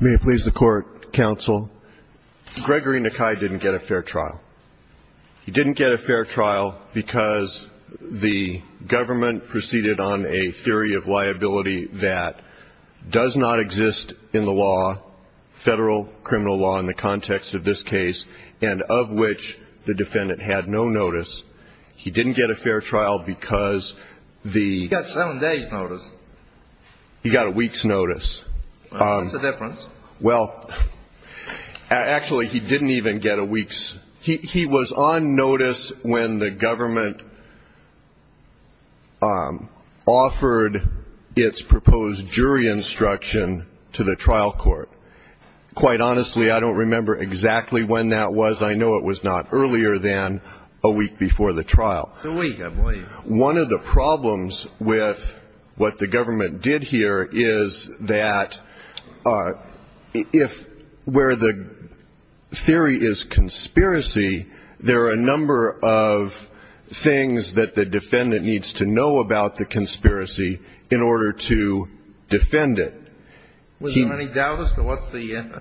May it please the Court, Counsel. Gregory Nakai didn't get a fair trial. He didn't get a fair trial because the government proceeded on a theory of liability that does not exist in the law, federal criminal law in the context of this case, and of which the defendant had no notice. He didn't get a fair trial because the- He got seven days notice. He got a week's notice. What's the difference? Well, actually, he didn't even get a week's. He was on notice when the government offered its proposed jury instruction to the trial court. Quite honestly, I don't remember exactly when that was. I know it was not earlier than a week before the trial. A week, I believe. One of the problems with what the government did here is that if where the theory is conspiracy, there are a number of things that the defendant needs to know about the conspiracy in order to defend it. Was there any doubt as to what the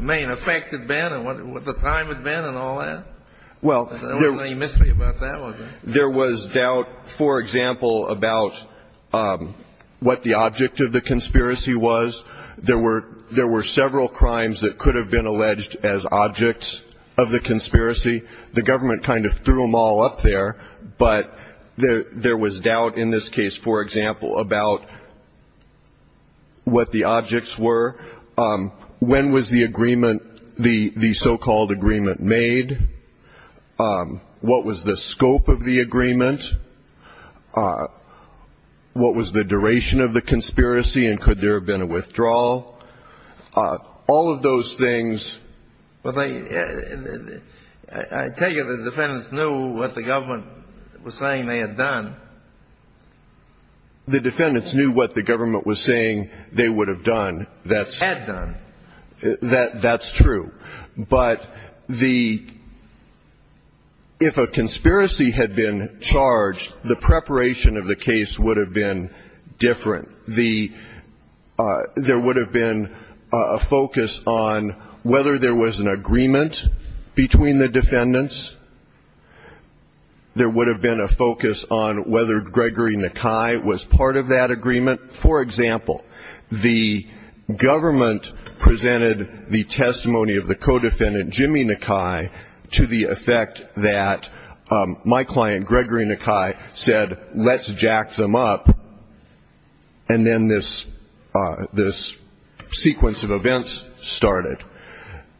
main effect had been and what the time had been and all that? Well, there- There wasn't any mystery about that, was there? There was doubt, for example, about what the object of the conspiracy was. There were several crimes that could have been alleged as objects of the conspiracy. The government kind of threw them all up there, but there was doubt in this case, for example, about what the objects were. When was the agreement, the so-called agreement, made? What was the scope of the agreement? What was the duration of the conspiracy, and could there have been a withdrawal? All of those things- But I tell you, the defendants knew what the government was saying they had done. The defendants knew what the government was saying they would have done. That's- Had done. That's true. But the- if a conspiracy had been charged, the preparation of the case would have been different. There would have been a focus on whether there was an agreement between the defendants. There would have been a focus on whether Gregory Nakai was part of that agreement. For example, the government presented the testimony of the co-defendant, Jimmy Nakai, to the effect that my client, Gregory Nakai, said, let's jack them up, and then this sequence of events started.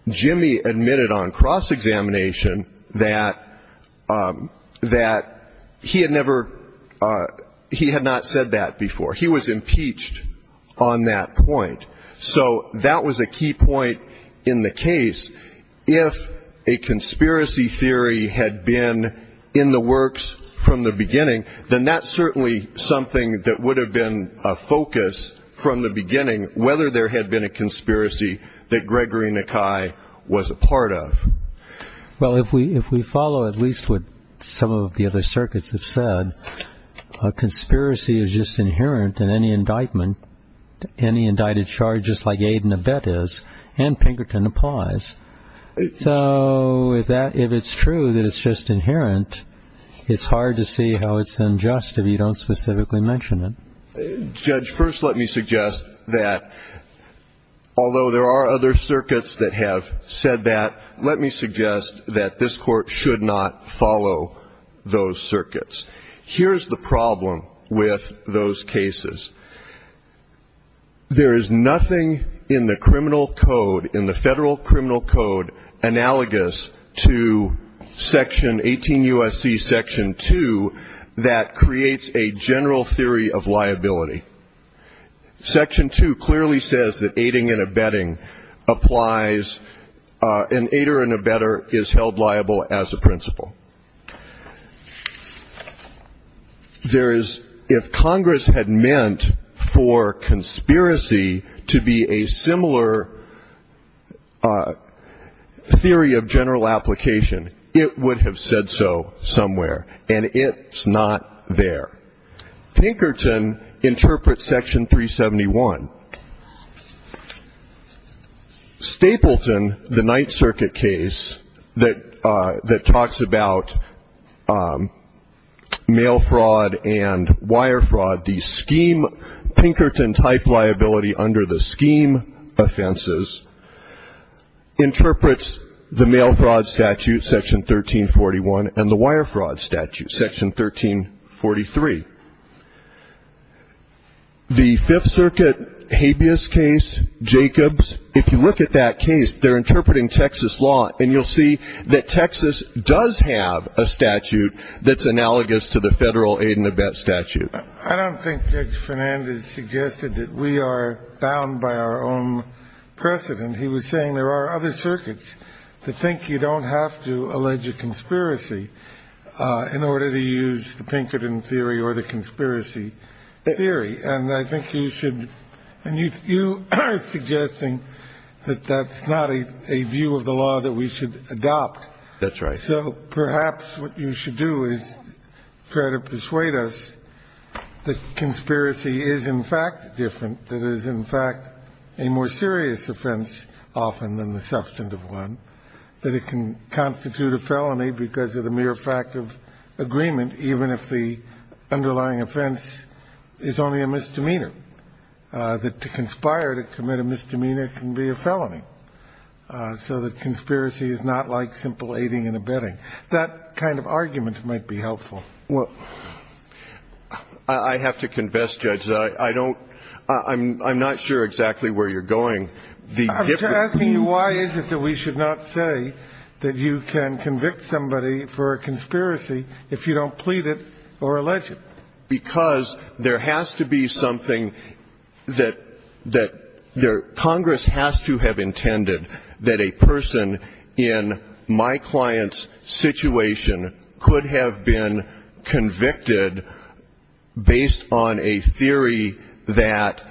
Jimmy admitted on cross-examination that he had never- he had not said that before. He was impeached on that point. So that was a key point in the case. If a conspiracy theory had been in the works from the beginning, then that's certainly something that would have been a focus from the beginning, whether there had been a conspiracy that Gregory Nakai was a part of. Well, if we follow at least what some of the other circuits have said, a conspiracy is just inherent in any indictment, any indicted charge, just like aid and abet is, and Pinkerton applies. So if it's true that it's just inherent, it's hard to see how it's unjust if you don't specifically mention it. Judge, first let me suggest that, although there are other circuits that have said that, let me suggest that this Court should not follow those circuits. Here's the problem with those cases. There is nothing in the criminal code, in the federal criminal code, analogous to Section 18 U.S.C. Section 2 that creates a general theory of liability. Section 2 clearly says that aiding and abetting applies, and aider and abetter is held liable as a principle. There is, if Congress had meant for conspiracy to be a similar theory of general application, it would have said so somewhere, and it's not there. Pinkerton interprets Section 371. Stapleton, the Ninth Circuit case that talks about mail fraud and wire fraud, the scheme Pinkerton type liability under the scheme offenses, interprets the mail fraud statute, Section 1341, and the wire fraud statute, Section 1343. The Fifth Circuit habeas case, Jacobs, if you look at that case, they're interpreting Texas law, and you'll see that Texas does have a statute that's analogous to the federal aid and abet statute. I don't think Judge Fernandez suggested that we are bound by our own precedent. He was saying there are other circuits that think you don't have to allege a conspiracy in order to use the Pinkerton theory or the conspiracy theory. And I think you should – and you are suggesting that that's not a view of the law that we should adopt. That's right. So perhaps what you should do is try to persuade us that conspiracy is in fact different, that it is in fact a more serious offense often than the substantive one, that it can constitute a felony because of the mere fact of agreement, even if the underlying offense is only a misdemeanor, that to conspire to commit a misdemeanor can be a felony, so that conspiracy is not like simple aiding and abetting. That kind of argument might be helpful. Well, I have to confess, Judge, that I don't – I'm not sure exactly where you're going. I'm asking you why is it that we should not say that you can convict somebody for a conspiracy if you don't plead it or allege it? Because there has to be something that – Congress has to have intended that a person in my client's situation could have been convicted based on a theory that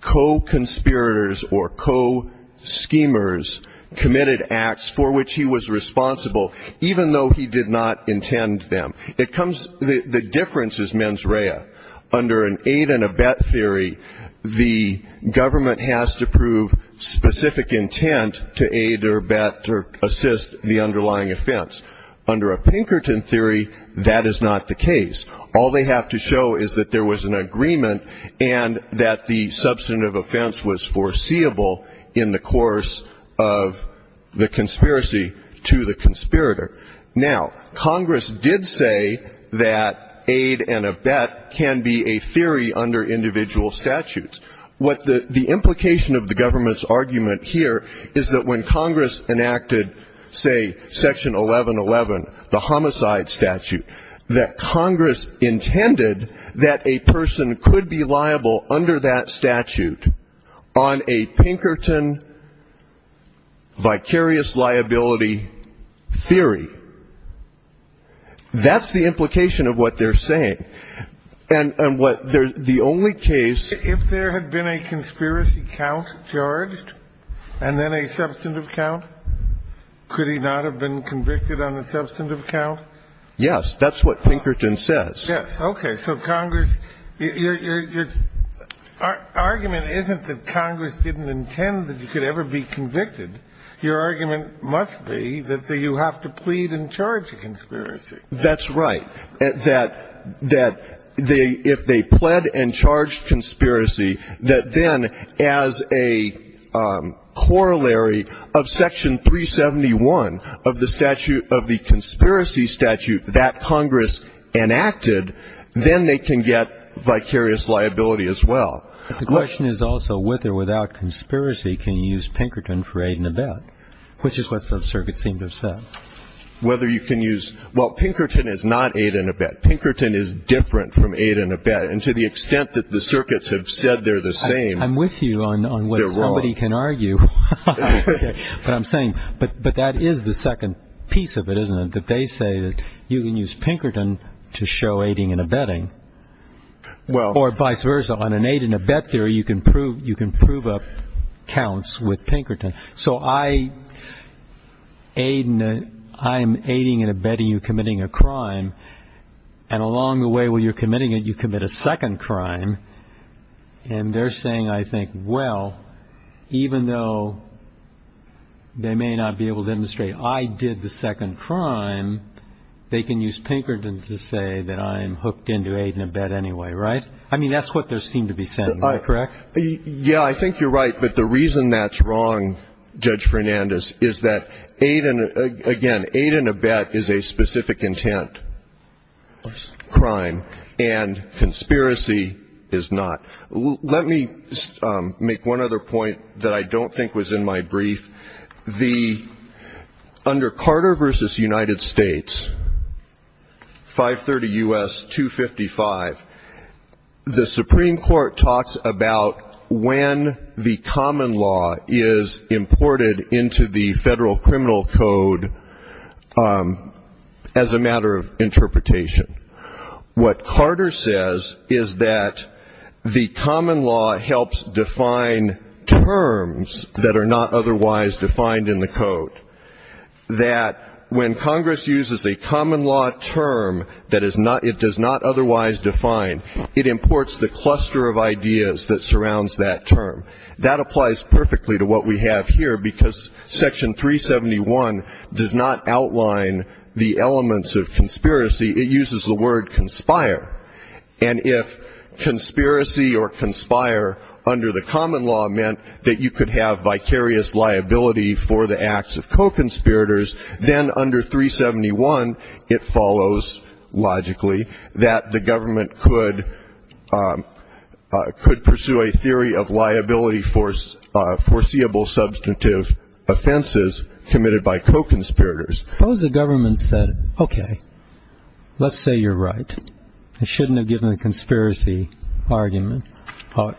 co-conspirators or co-schemers committed acts for which he was responsible, even though he did not intend them. It comes – the difference is mens rea. Under an aid and abet theory, the government has to prove specific intent to aid or abet or assist the underlying offense. Under a Pinkerton theory, that is not the case. All they have to show is that there was an agreement and that the substantive offense was foreseeable in the course of the conspiracy to the conspirator. Now, Congress did say that aid and abet can be a theory under individual statutes. What the implication of the government's argument here is that when Congress enacted, say, Section 1111, the homicide statute, that Congress intended that a person could be liable under that statute on a Pinkerton vicarious liability theory. That's the implication of what they're saying. And what the only case – If there had been a conspiracy count charged and then a substantive count, could he not have been convicted on the substantive count? Yes. That's what Pinkerton says. Yes. Okay. So Congress – your argument isn't that Congress didn't intend that he could ever be convicted. Your argument must be that you have to plead and charge a conspiracy. That's right. That if they pled and charged conspiracy, that then as a corollary of Section 371 of the conspiracy statute that Congress enacted, then they can get vicarious liability as well. The question is also whether without conspiracy can you use Pinkerton for aid and abet, which is what some circuits seem to have said. Whether you can use – well, Pinkerton is not aid and abet. Pinkerton is different from aid and abet. And to the extent that the circuits have said they're the same, they're wrong. I'm with you on what somebody can argue. But I'm saying – but that is the second piece of it, isn't it, that they say that you can use Pinkerton to show aiding and abetting, or vice versa. On an aid and abet theory, you can prove up counts with Pinkerton. So I'm aiding and abetting you committing a crime, and along the way while you're committing it, you commit a second crime. And they're saying, I think, well, even though they may not be able to demonstrate I did the second crime, they can use Pinkerton to say that I am hooked into aid and abet anyway, right? I mean, that's what they seem to be saying. Am I correct? Yeah, I think you're right. But the reason that's wrong, Judge Fernandez, is that, again, aid and abet is a specific intent crime, and conspiracy is not. Let me make one other point that I don't think was in my brief. Under Carter v. United States, 530 U.S., 255, the Supreme Court talks about when the common law is imported into the Federal Criminal Code as a matter of interpretation. What Carter says is that the common law helps define terms that are not otherwise defined in the code, that when Congress uses a common law term that it does not otherwise define, it imports the cluster of ideas that surrounds that term. That applies perfectly to what we have here, because Section 371 does not outline the elements of conspiracy. It uses the word conspire. And if conspiracy or conspire under the common law meant that you could have vicarious liability for the acts of co-conspirators, then under 371 it follows, logically, that the government could pursue a theory of liability for foreseeable substantive offenses committed by co-conspirators. Suppose the government said, okay, let's say you're right. I shouldn't have given a conspiracy argument or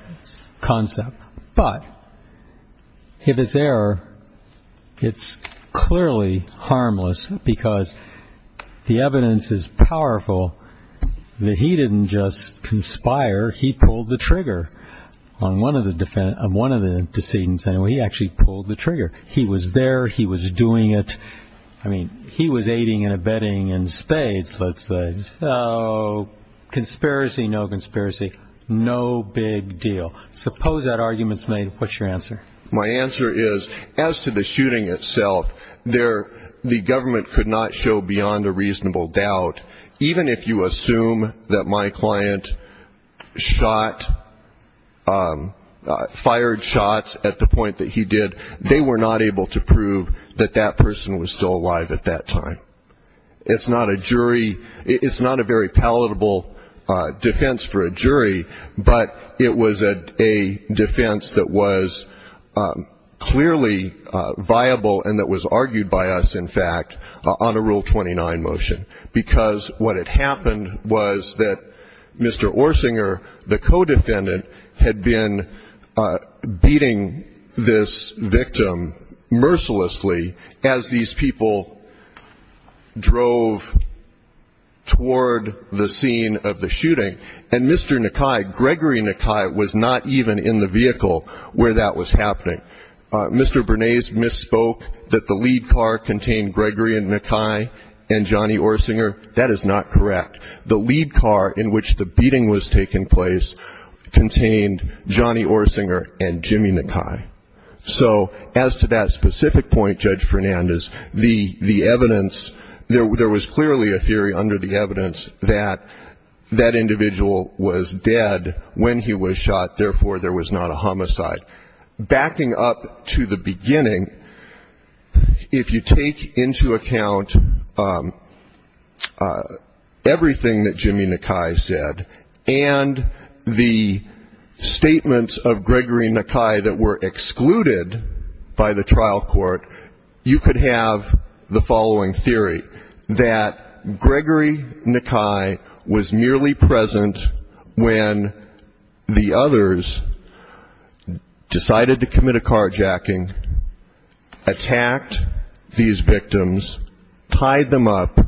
concept. But if it's there, it's clearly harmless, because the evidence is powerful that he didn't just conspire. He pulled the trigger on one of the decisions. He actually pulled the trigger. He was there. He was doing it. I mean, he was aiding and abetting in spades, let's say. So conspiracy, no conspiracy, no big deal. Suppose that argument's made. What's your answer? My answer is, as to the shooting itself, the government could not show beyond a reasonable doubt. Even if you assume that my client shot, fired shots at the point that he did, they were not able to prove that that person was still alive at that time. It's not a jury. It's not a very palatable defense for a jury. But it was a defense that was clearly viable and that was argued by us, in fact, on a Rule 29 motion, because what had happened was that Mr. Orsinger, the co-defendant, had been beating this victim mercilessly as these people drove toward the scene of the shooting, and Mr. Nakai, Gregory Nakai, was not even in the vehicle where that was happening. Mr. Bernays misspoke that the lead car contained Gregory Nakai and Johnny Orsinger. That is not correct. The lead car in which the beating was taking place contained Johnny Orsinger and Jimmy Nakai. So as to that specific point, Judge Fernandez, the evidence, there was clearly a theory under the evidence that that individual was dead when he was shot, therefore there was not a homicide. Backing up to the beginning, if you take into account everything that Jimmy Nakai said and the statements of Gregory Nakai that were excluded by the trial court, you could have the following theory, that Gregory Nakai was merely present when the others decided to commit a carjacking, attacked these victims, tied them up,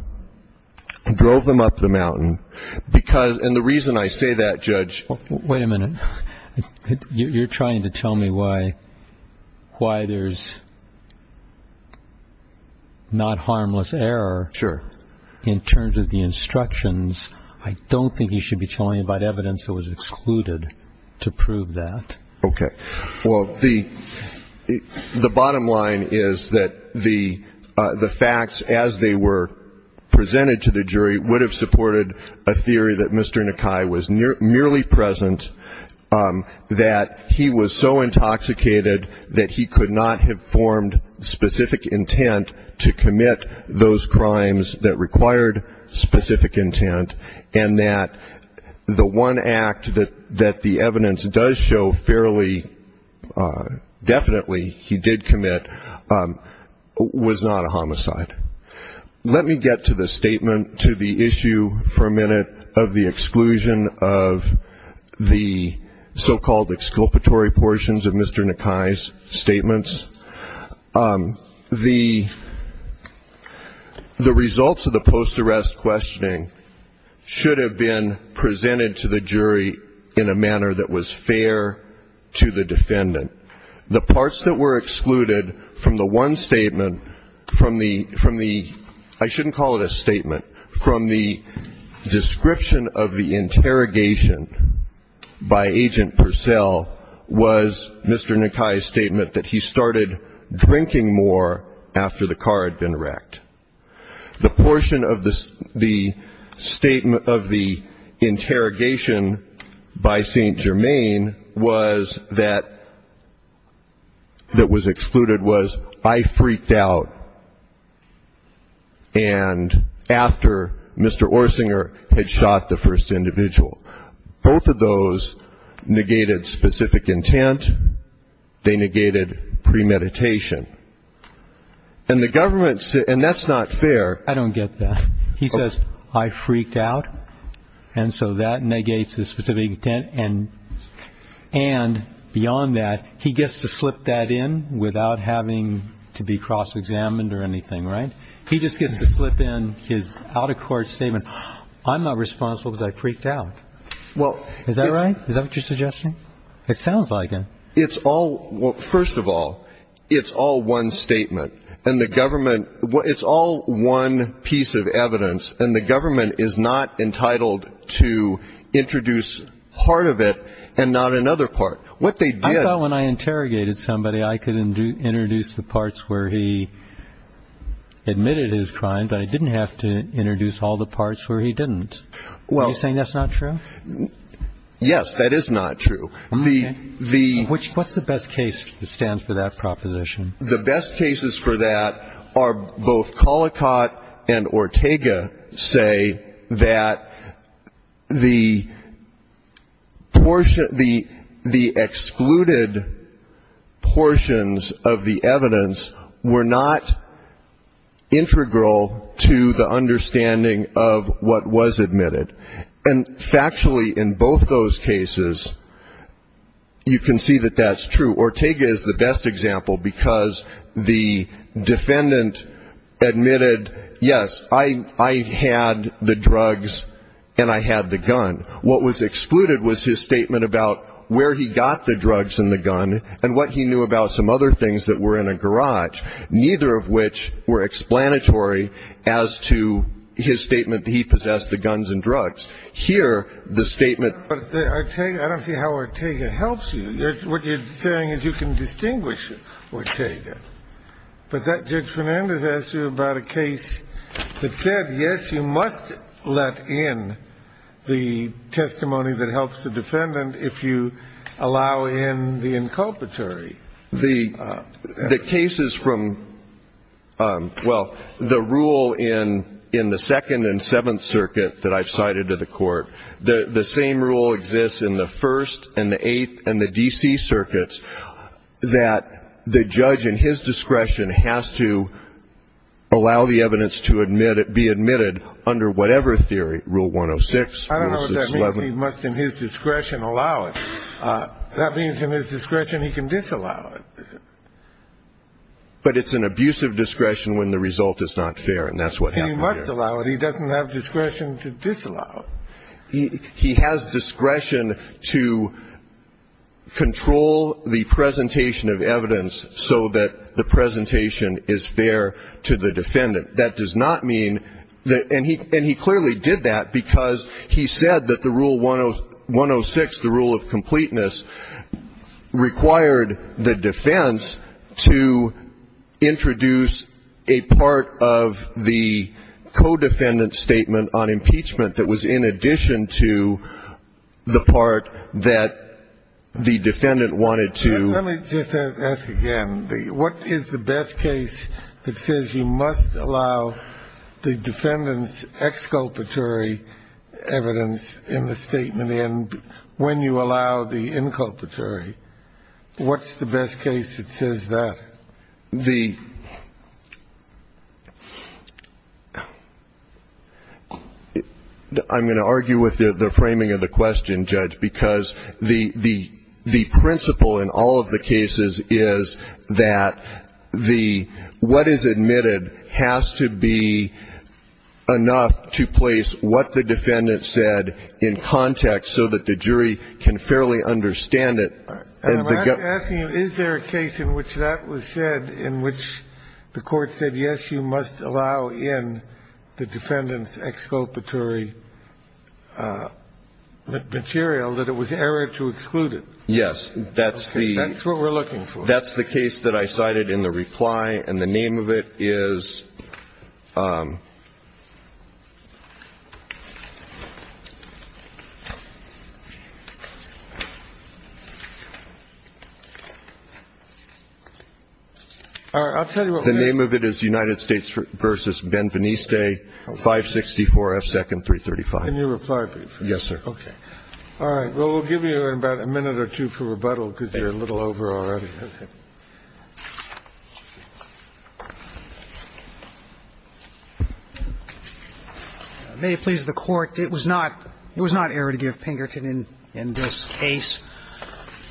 drove them up the mountain. And the reason I say that, Judge ---- Well, wait a minute. You're trying to tell me why there's not harmless error in terms of the instructions. I don't think you should be telling me about evidence that was excluded to prove that. Okay. Well, the bottom line is that the facts as they were presented to the jury would have supported a theory that Mr. Nakai was merely present, that he was so intoxicated that he could not have formed specific intent to commit those crimes that required specific intent, and that the one act that the evidence does show fairly definitely he did commit was not a homicide. Let me get to the statement, to the issue for a minute, of the exclusion of the so-called exculpatory portions of Mr. Nakai's statements. The results of the post-arrest questioning should have been presented to the jury in a manner that was fair to the defendant. The parts that were excluded from the one statement, from the ---- I shouldn't call it a statement. From the description of the interrogation by Agent Purcell was Mr. Nakai's statement that he started drinking more after the car had been wrecked. The portion of the interrogation by St. Germain that was excluded was I freaked out and after Mr. Orsinger had shot the first individual. Both of those negated specific intent. They negated premeditation. And the government, and that's not fair. I don't get that. He says, I freaked out, and so that negates the specific intent. And beyond that, he gets to slip that in without having to be cross-examined or anything, right? He just gets to slip in his out-of-court statement, I'm not responsible because I freaked out. Is that right? Is that what you're suggesting? It sounds like it. Well, first of all, it's all one statement. And the government ---- it's all one piece of evidence. And the government is not entitled to introduce part of it and not another part. What they did ---- I thought when I interrogated somebody, I could introduce the parts where he admitted his crime, but I didn't have to introduce all the parts where he didn't. Are you saying that's not true? Yes, that is not true. The ---- What's the best case that stands for that proposition? The best cases for that are both Collicott and Ortega say that the portion ---- the excluded portions of the evidence were not integral to the understanding of what was admitted. And factually, in both those cases, you can see that that's true. Ortega is the best example because the defendant admitted, yes, I had the drugs and I had the gun. What was excluded was his statement about where he got the drugs and the gun and what he knew about some other things that were in a garage, neither of which were explanatory as to his statement that he possessed the guns and drugs. Here, the statement ---- But Ortega ---- I don't see how Ortega helps you. What you're saying is you can distinguish Ortega. But Judge Fernandez asked you about a case that said, yes, you must let in the testimony that helps the defendant if you allow in the inculpatory. The cases from ---- well, the rule in the Second and Seventh Circuit that I've cited to the Court, the same rule exists in the First and the Eighth and the D.C. Circuits that the judge in his discretion has to allow the evidence to be admitted under whatever theory, Rule 106. I don't know if that means he must in his discretion allow it. That means in his discretion he can disallow it. But it's an abusive discretion when the result is not fair, and that's what happened here. He must allow it. He doesn't have discretion to disallow it. He has discretion to control the presentation of evidence so that the presentation is fair to the defendant. That does not mean that ---- and he clearly did that because he said that the Rule 106, the rule of completeness, required the defense to introduce a part of the co-defendant statement on impeachment that was in addition to the part that the defendant wanted to ---- Let me just ask again. What is the best case that says you must allow the defendant's exculpatory evidence in the statement and when you allow the inculpatory? What's the best case that says that? The ---- I'm going to argue with the framing of the question, Judge, because the principle in all of the cases is that the ---- what is admitted has to be enough to place what the defendant said in context so that the jury can fairly understand it. I'm asking you, is there a case in which that was said, in which the Court said, yes, you must allow in the defendant's exculpatory material, that it was error to exclude it? Yes, that's the ---- Okay. That's what we're looking for. That's the case that I cited in the reply, and the name of it is ---- All right. I'll tell you what ---- The name of it is United States v. Benveniste, 564 F. 2nd, 335. Can you reply, please? Yes, sir. All right. Well, we'll give you about a minute or two for rebuttal because you're a little over already. Okay. May it please the Court, it was not error to give Pinkerton in this case.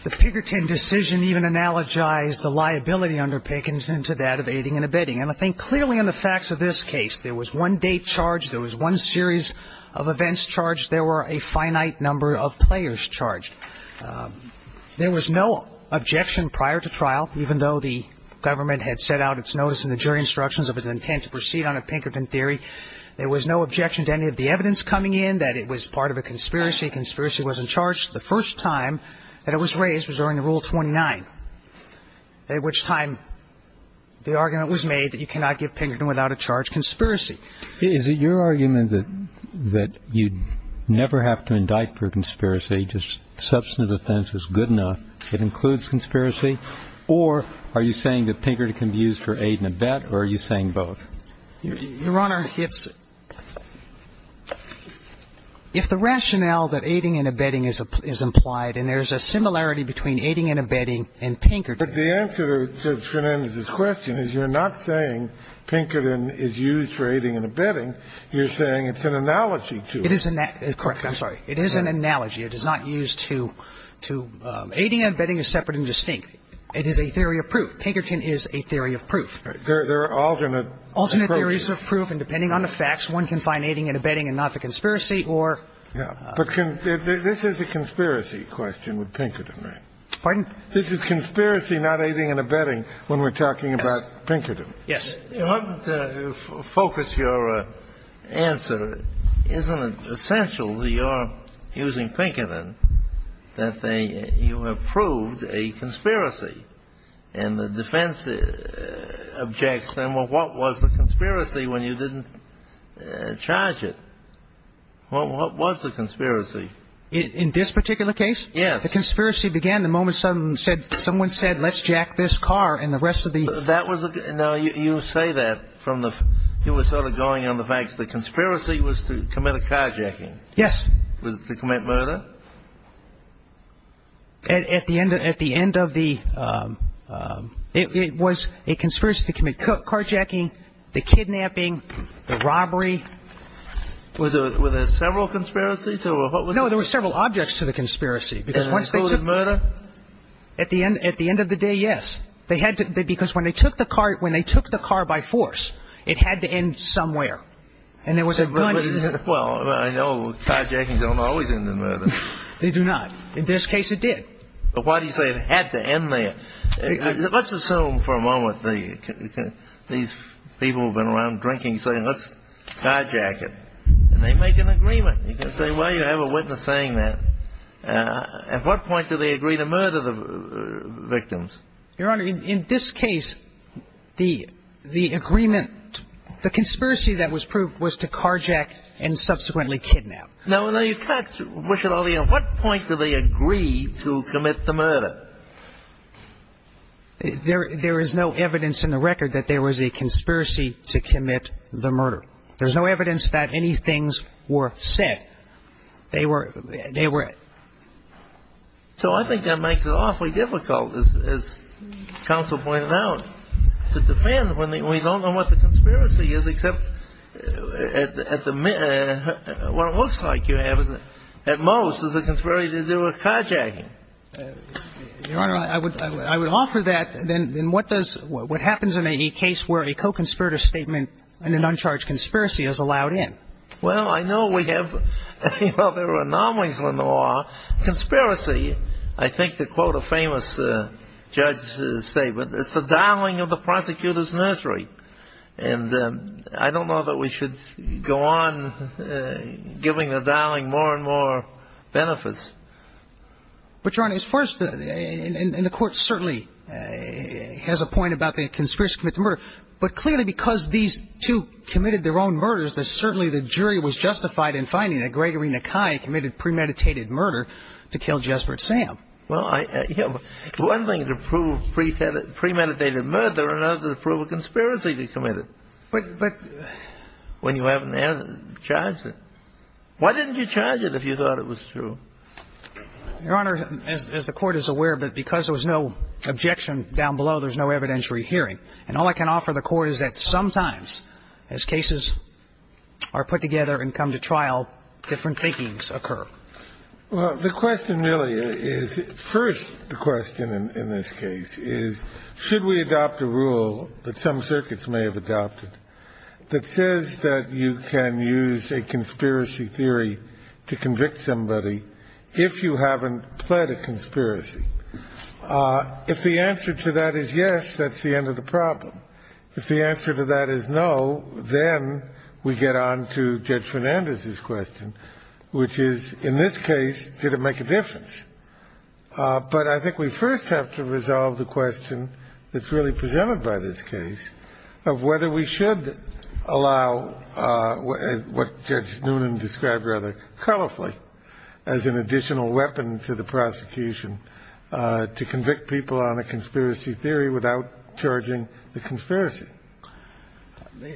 The Pinkerton decision even analogized the liability under Pinkerton to that of aiding and abetting. And I think clearly in the facts of this case, there was one date charged. There was one series of events charged. There were a finite number of players charged. There was no objection prior to trial, even though the government had set out its notice in the jury instructions of its intent to proceed on a Pinkerton theory. There was no objection to any of the evidence coming in that it was part of a conspiracy. Conspiracy wasn't charged. The first time that it was raised was during the Rule 29, at which time the argument was made that you cannot give Pinkerton without a charge conspiracy. Is it your argument that you never have to indict for conspiracy, just substantive offense is good enough, it includes conspiracy, or are you saying that Pinkerton can be used for aid and abet, or are you saying both? Your Honor, it's – if the rationale that aiding and abetting is implied, and there's a similarity between aiding and abetting and Pinkerton. But the answer to Shenanda's question is you're not saying Pinkerton is used for aiding and abetting, you're saying it's an analogy to it. It is an – correct. I'm sorry. It is an analogy. It is not used to – aiding and abetting is separate and distinct. It is a theory of proof. Pinkerton is a theory of proof. There are alternate approaches. Alternate theories of proof, and depending on the facts, one can find aiding and abetting and not the conspiracy, or – But this is a conspiracy question with Pinkerton, right? Pardon? This is conspiracy, not aiding and abetting, when we're talking about Pinkerton. Yes. Your Honor, to focus your answer, isn't it essential that you're using Pinkerton, that they – you have proved a conspiracy? And the defense objects, then, well, what was the conspiracy when you didn't charge it? What was the conspiracy? In this particular case? Yes. The conspiracy began the moment someone said, let's jack this car, and the rest of the – That was – now, you say that from the – you were sort of going on the facts. The conspiracy was to commit a carjacking. Yes. Was it to commit murder? At the end of the – it was a conspiracy to commit carjacking, the kidnapping, the robbery. Were there several conspiracies, or what was the – No, there were several objects to the conspiracy, because once they took – And it included murder? At the end of the day, yes. They had to – because when they took the car – when they took the car by force, it had to end somewhere. And there was a gun – Well, I know carjackings don't always end in murder. They do not. In this case, it did. But why do you say it had to end there? Let's assume for a moment the – these people have been around drinking, saying, let's carjack it. And they make an agreement. You can say, well, you have a witness saying that. At what point do they agree to murder the victims? Your Honor, in this case, the agreement – the conspiracy that was proved was to carjack and subsequently kidnap. No, no, you can't wish it on me. At what point do they agree to commit the murder? There is no evidence in the record that there was a conspiracy to commit the murder. There's no evidence that any things were said. They were – they were – So I think that makes it awfully difficult, as counsel pointed out, to defend when we don't know what the conspiracy is, except at the – what it looks like you have at most is a conspiracy to do a carjacking. Your Honor, I would offer that. Then what does – what happens in a case where a co-conspirator statement and an uncharged conspiracy is allowed in? Well, I know we have – well, there are anomalies in the law. Conspiracy, I think to quote a famous judge's statement, is the darling of the prosecutor's nursery. And I don't know that we should go on giving the darling more and more benefits. But, Your Honor, as far as – and the court certainly has a point about the conspiracy to commit the murder. But clearly because these two committed their own murders, that certainly the jury was justified in finding that Gregory Nakai committed premeditated murder to kill Jesper Sam. Well, I – one thing to prove premeditated murder and another to prove a conspiracy to commit it. But – When you haven't charged it. Why didn't you charge it if you thought it was true? Your Honor, as the court is aware of it, because there was no objection down below, there's no evidentiary hearing. And all I can offer the court is that sometimes as cases are put together and come to trial, different thinkings occur. Well, the question really is – first, the question in this case is should we adopt a rule that some circuits may have adopted that says that you can use a conspiracy theory to convict somebody if you haven't pled a conspiracy? If the answer to that is yes, that's the end of the problem. If the answer to that is no, then we get on to Judge Fernandez's question, which is, in this case, did it make a difference? But I think we first have to resolve the question that's really presented by this case of whether we should allow what Judge Noonan described rather colorfully as an additional weapon to the prosecution to convict people on a conspiracy theory without charging the conspiracy.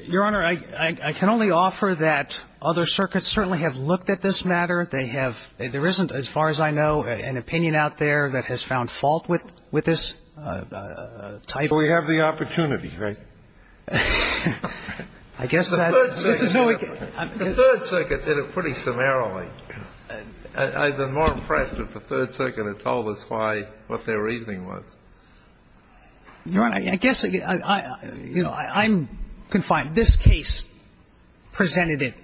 Your Honor, I can only offer that other circuits certainly have looked at this matter. They have – there isn't, as far as I know, an opinion out there that has found fault with this type of – We have the opportunity, right? I guess that's – The Third Circuit did it pretty summarily. I'd been more impressed if the Third Circuit had told us why – what their reasoning was. Your Honor, I guess, you know, I'm confined. But this case presented it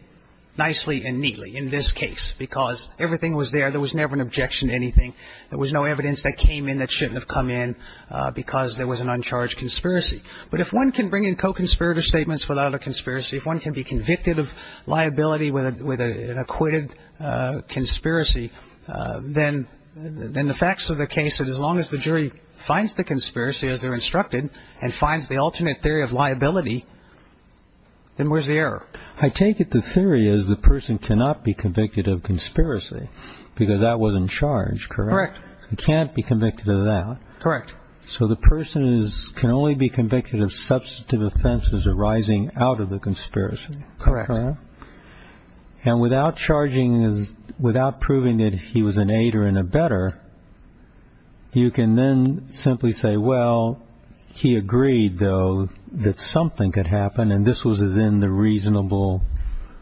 nicely and neatly in this case because everything was there. There was never an objection to anything. There was no evidence that came in that shouldn't have come in because there was an uncharged conspiracy. But if one can bring in co-conspirator statements without a conspiracy, if one can be convicted of liability with an acquitted conspiracy, then the facts of the case that as long as the jury finds the conspiracy as they're instructed and finds the alternate theory of liability, then where's the error? I take it the theory is the person cannot be convicted of conspiracy because that was in charge, correct? Correct. He can't be convicted of that. Correct. So the person is – can only be convicted of substantive offenses arising out of the conspiracy. Correct. And without charging – without proving that he was an aider and a better, you can then simply say, well, he agreed, though, that something could happen and this was then the reasonable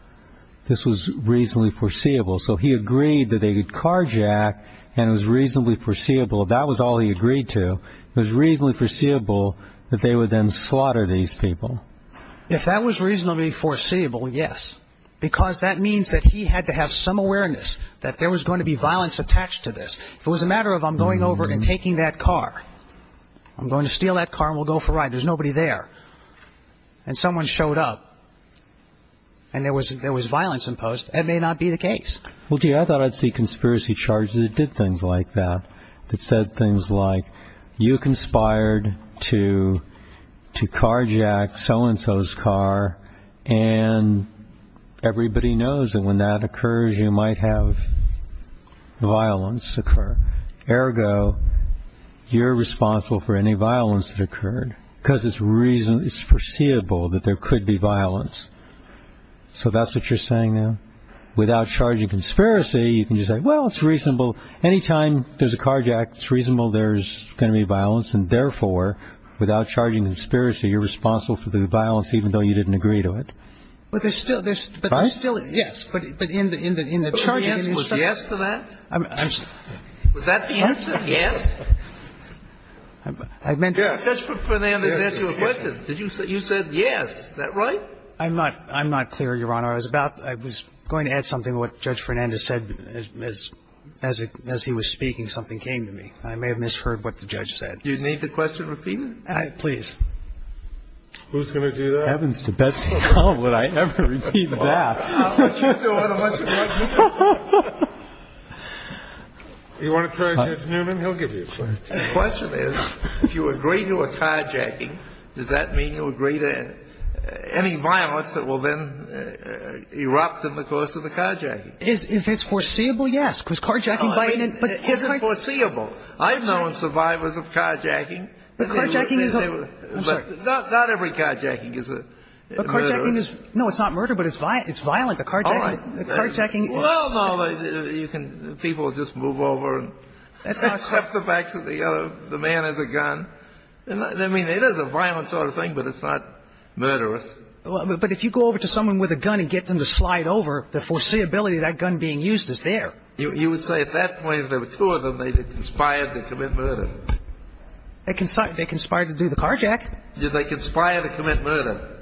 – this was reasonably foreseeable. So he agreed that they could carjack and it was reasonably foreseeable. That was all he agreed to. It was reasonably foreseeable that they would then slaughter these people. If that was reasonably foreseeable, yes, because that means that he had to have some awareness that there was going to be violence attached to this. If it was a matter of I'm going over and taking that car, I'm going to steal that car and we'll go for a ride, there's nobody there, and someone showed up and there was violence imposed, that may not be the case. Well, gee, I thought I'd see conspiracy charges that did things like that, that said things like, you conspired to carjack so-and-so's car and everybody knows that when that occurs you might have violence occur. Ergo, you're responsible for any violence that occurred, because it's foreseeable that there could be violence. So that's what you're saying now? Without charging conspiracy, you can just say, well, it's reasonable. Any time there's a carjack, it's reasonable there's going to be violence, and therefore, without charging conspiracy, you're responsible for the violence even though you didn't agree to it? But there's still this. Right? Yes. But in the charging. Was the answer yes to that? I'm sorry. Was that the answer, yes? I meant to. Judge Fernandez asked you a question. You said yes. Is that right? I'm not clear, Your Honor. I was going to add something to what Judge Fernandez said as he was speaking. Something came to me. I may have misheard what the judge said. Do you need the question repeated? Please. Who's going to do that? It happens to Betsy. How would I ever repeat that? I'll let you do it unless you want me to. Do you want to try Judge Newman? He'll give you a question. The question is, if you agree to a carjacking, does that mean you agree to any violence that will then erupt in the course of the carjacking? If it's foreseeable, yes. Because carjacking by any ñ It isn't foreseeable. I've known survivors of carjacking. But carjacking is a ñ I'm sorry. Not every carjacking is a murder. But carjacking is ñ no, it's not murder, but it's violent. The carjacking is ñ All right. Well, no. You can ñ people just move over. That's not ñ Step the back to the other. The man has a gun. I mean, it is a violent sort of thing, but it's not murderous. But if you go over to someone with a gun and get them to slide over, the foreseeability of that gun being used is there. You would say at that point there were two of them. They had conspired to commit murder. They conspired to do the carjack. They conspired to commit murder.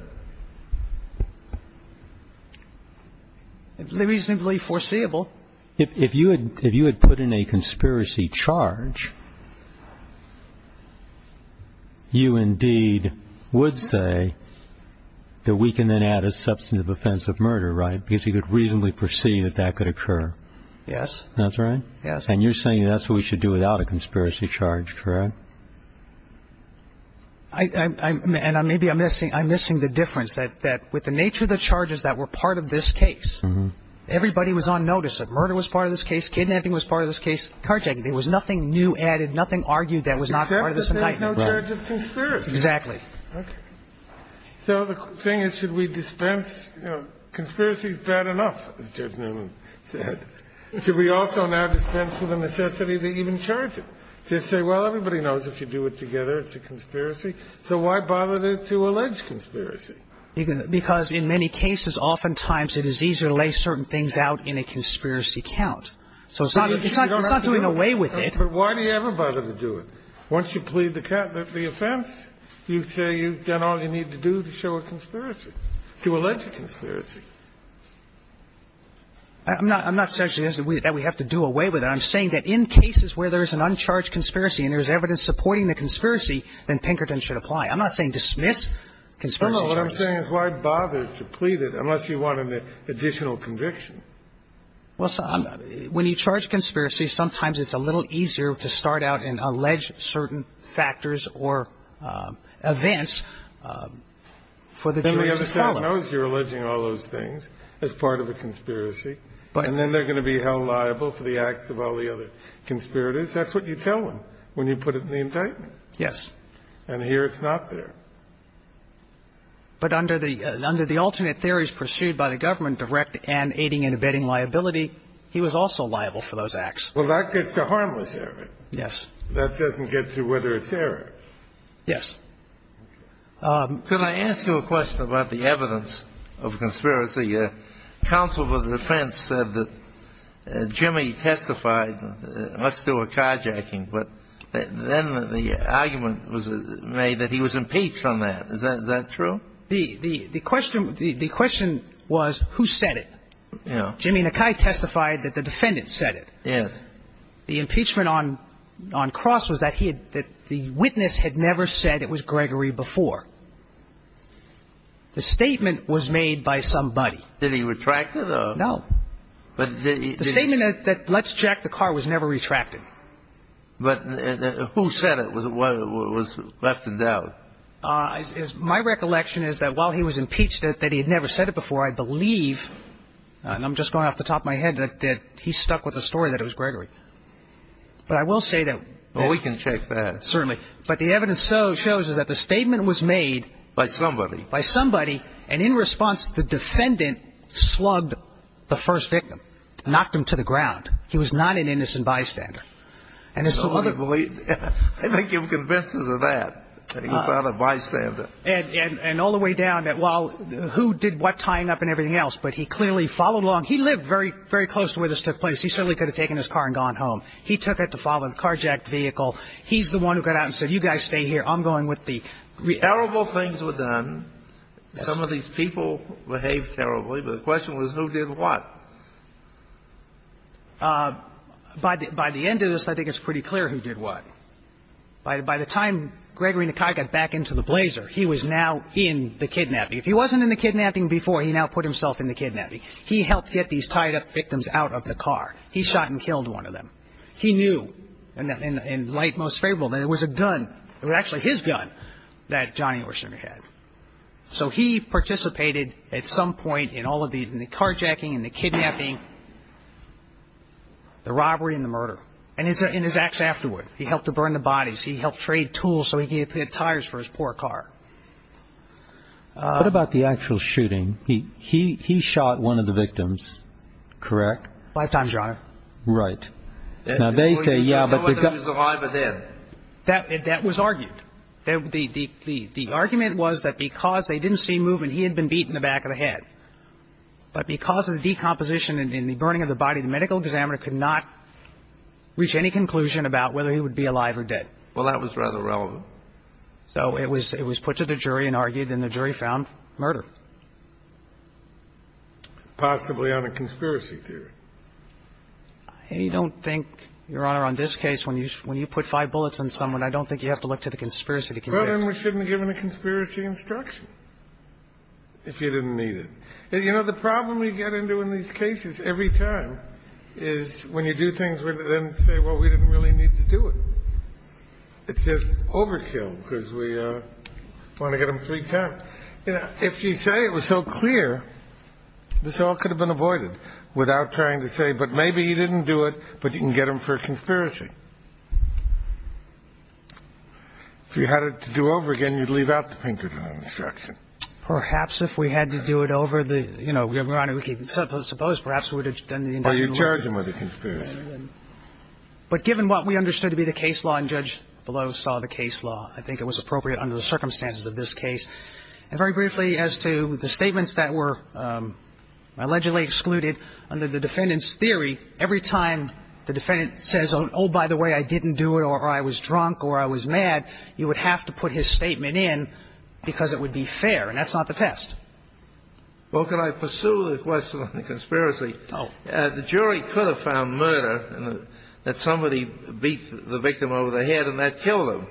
It's reasonably foreseeable. Well, if you had put in a conspiracy charge, you indeed would say that we can then add a substantive offense of murder, right? Because you could reasonably foresee that that could occur. Yes. That's right? Yes. And you're saying that's what we should do without a conspiracy charge, correct? And maybe I'm missing the difference, that with the nature of the charges that were part of this case, everybody was on notice that murder was part of this case, kidnapping was part of this case, carjacking. There was nothing new added, nothing argued that was not part of this indictment. Except that they had no charge of conspiracy. Exactly. So the thing is, should we dispense? You know, conspiracy is bad enough, as Judge Newman said. Should we also now dispense with the necessity to even charge it? To say, well, everybody knows if you do it together, it's a conspiracy. So why bother to allege conspiracy? Because in many cases, oftentimes it is easier to lay certain things out in a conspiracy count. So it's not doing away with it. But why do you ever bother to do it? Once you plead the offense, you say you've done all you need to do to show a conspiracy, to allege a conspiracy. I'm not suggesting that we have to do away with it. I'm saying that in cases where there is an uncharged conspiracy and there is evidence I'm not saying dismiss conspiracy charges. No, no. What I'm saying is why bother to plead it unless you want an additional conviction? Well, when you charge conspiracy, sometimes it's a little easier to start out and allege certain factors or events for the jury to follow. Then the other side knows you're alleging all those things as part of a conspiracy. And then they're going to be held liable for the acts of all the other conspirators. That's what you tell them when you put it in the indictment. Yes. And here it's not there. But under the alternate theories pursued by the government, direct and aiding and abetting liability, he was also liable for those acts. Well, that gets to harmless error. Yes. That doesn't get to whether it's error. Yes. Could I ask you a question about the evidence of conspiracy? Counsel for the defense said that Jimmy testified, let's do a carjacking. But then the argument was made that he was impeached on that. Is that true? The question was who said it. Yeah. Jimmy Nakai testified that the defendant said it. Yes. The impeachment on Cross was that the witness had never said it was Gregory before. The statement was made by somebody. Did he retract it? No. The statement that let's jack the car was never retracted. But who said it was left in doubt? My recollection is that while he was impeached, that he had never said it before, I believe, and I'm just going off the top of my head, that he stuck with the story that it was Gregory. But I will say that. Well, we can check that. Certainly. But the evidence shows is that the statement was made. By somebody. By somebody. And in response, the defendant slugged the first victim, knocked him to the ground. He was not an innocent bystander. I think you're convinced of that, that he's not a bystander. And all the way down that while who did what tying up and everything else. But he clearly followed along. He lived very close to where this took place. He certainly could have taken his car and gone home. He took it to follow the car jacked vehicle. He's the one who got out and said, you guys stay here. I'm going with the. Terrible things were done. Some of these people behaved terribly. But the question was who did what. By the end of this, I think it's pretty clear who did what. By the time Gregory Nakai got back into the blazer, he was now in the kidnapping. If he wasn't in the kidnapping before, he now put himself in the kidnapping. He helped get these tied up victims out of the car. He shot and killed one of them. He knew in light most favorable that it was a gun, it was actually his gun, that Johnny Orsinger had. So he participated at some point in all of the carjacking and the kidnapping. The robbery and the murder. And in his acts afterward, he helped to burn the bodies. He helped trade tools so he could get tires for his poor car. What about the actual shooting? He shot one of the victims, correct? Five times, Your Honor. Right. Now, they say, yeah, but. I don't know whether he was alive or dead. That was argued. The argument was that because they didn't see movement, he had been beaten in the back of the head. But because of the decomposition and the burning of the body, the medical examiner could not reach any conclusion about whether he would be alive or dead. Well, that was rather irrelevant. So it was put to the jury and argued, and the jury found murder. Possibly on a conspiracy theory. I don't think, Your Honor, on this case, when you put five bullets on someone, I don't think you have to look to the conspiracy to convict. Well, then we shouldn't have given a conspiracy instruction if you didn't need it. You know, the problem we get into in these cases every time is when you do things, we then say, well, we didn't really need to do it. It's just overkill because we want to get them three times. But, you know, if you say it was so clear, this all could have been avoided without trying to say, but maybe he didn't do it, but you can get him for a conspiracy. If you had it to do over again, you'd leave out the Pinkerton instruction. Perhaps if we had to do it over the, you know, Your Honor, we could suppose perhaps we would have done the indictment. Or you'd charge him with a conspiracy. But given what we understood to be the case law, and Judge Below saw the case law, I think it was appropriate under the circumstances of this case. And very briefly, as to the statements that were allegedly excluded under the defendant's theory, every time the defendant says, oh, by the way, I didn't do it or I was drunk or I was mad, you would have to put his statement in because it would be fair. And that's not the test. Well, could I pursue the question on the conspiracy? No. The jury could have found murder in that somebody beat the victim over the head and that killed him.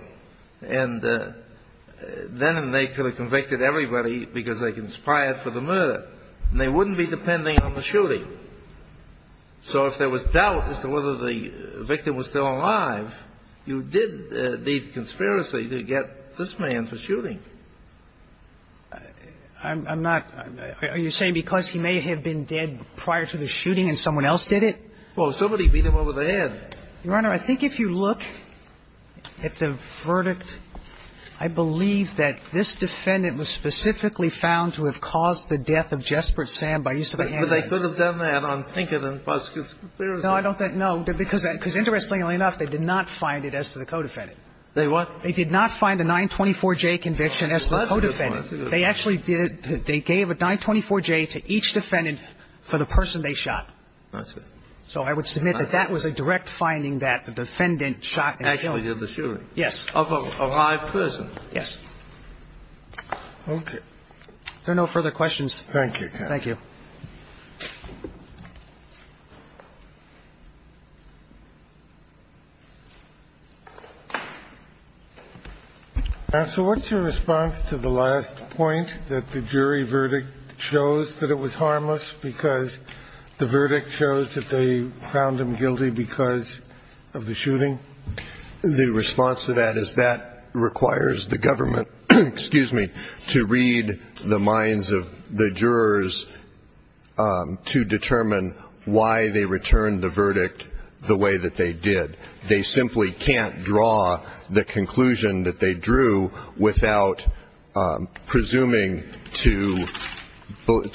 And then they could have convicted everybody because they conspired for the murder. And they wouldn't be depending on the shooting. So if there was doubt as to whether the victim was still alive, you did need conspiracy to get this man for shooting. I'm not – are you saying because he may have been dead prior to the shooting and someone else did it? Well, somebody beat him over the head. Your Honor, I think if you look at the verdict, I believe that this defendant was specifically found to have caused the death of Jespert Sand by use of a handgun. But they could have done that on Pinkett and Buskis. No, I don't think – no. Because interestingly enough, they did not find it as to the co-defendant. They what? They did not find a 924J conviction as to the co-defendant. They actually did. They gave a 924J to each defendant for the person they shot. I see. So I would submit that that was a direct finding that the defendant shot and killed. Actually did the shooting. Yes. Of a live person. Yes. Okay. If there are no further questions. Thank you, counsel. Thank you. Counsel, what's your response to the last point that the jury verdict shows that it was harmless because the verdict shows that they found him guilty because of the shooting? The response to that is that requires the government – excuse me – to read the minds of the jurors to determine why they returned the verdict the way that they did. They simply can't draw the conclusion that they drew without presuming to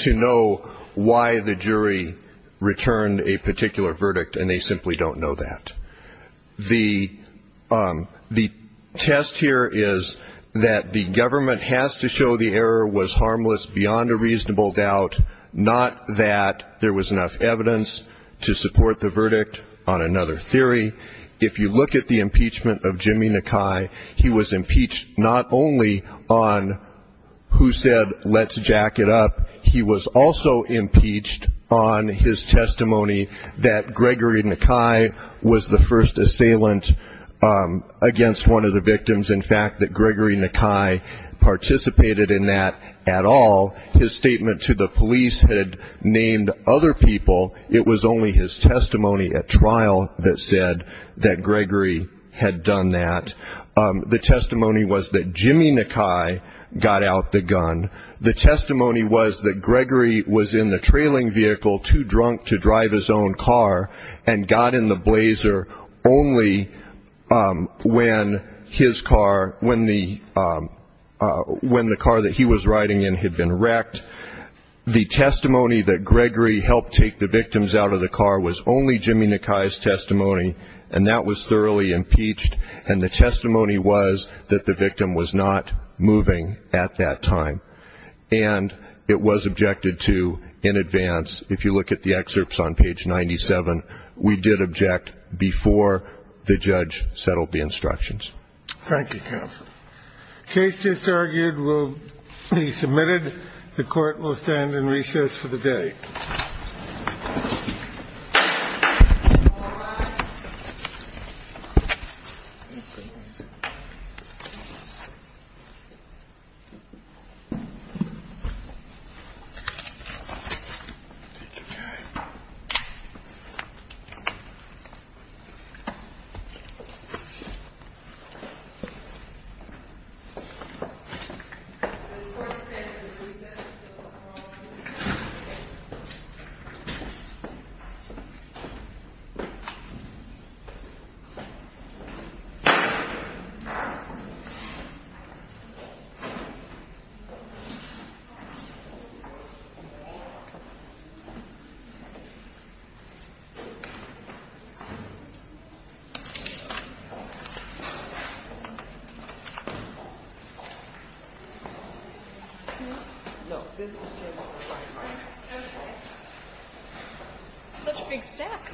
know why the jury returned a particular verdict, and they simply don't know that. The test here is that the government has to show the error was harmless beyond a reasonable doubt, not that there was enough evidence to support the verdict on another theory. If you look at the impeachment of Jimmy Nakai, he was impeached not only on who said, let's jack it up. He was also impeached on his testimony that Gregory Nakai was the first assailant against one of the victims. In fact, that Gregory Nakai participated in that at all. His statement to the police had named other people. It was only his testimony at trial that said that Gregory had done that. The testimony was that Jimmy Nakai got out the gun. The testimony was that Gregory was in the trailing vehicle too drunk to drive his own car and got in the blazer only when the car that he was riding in had been wrecked. The testimony that Gregory helped take the victims out of the car was only Jimmy Nakai's testimony, and that was thoroughly impeached. And the testimony was that the victim was not moving at that time. And it was objected to in advance. If you look at the excerpts on page 97, we did object before the judge settled the instructions. Thank you, counsel. Case just argued will be submitted. The court will stand in recess for the day. All right. The court stands in recess until tomorrow morning. Thank you. Such big steps. Thank you. Thank you.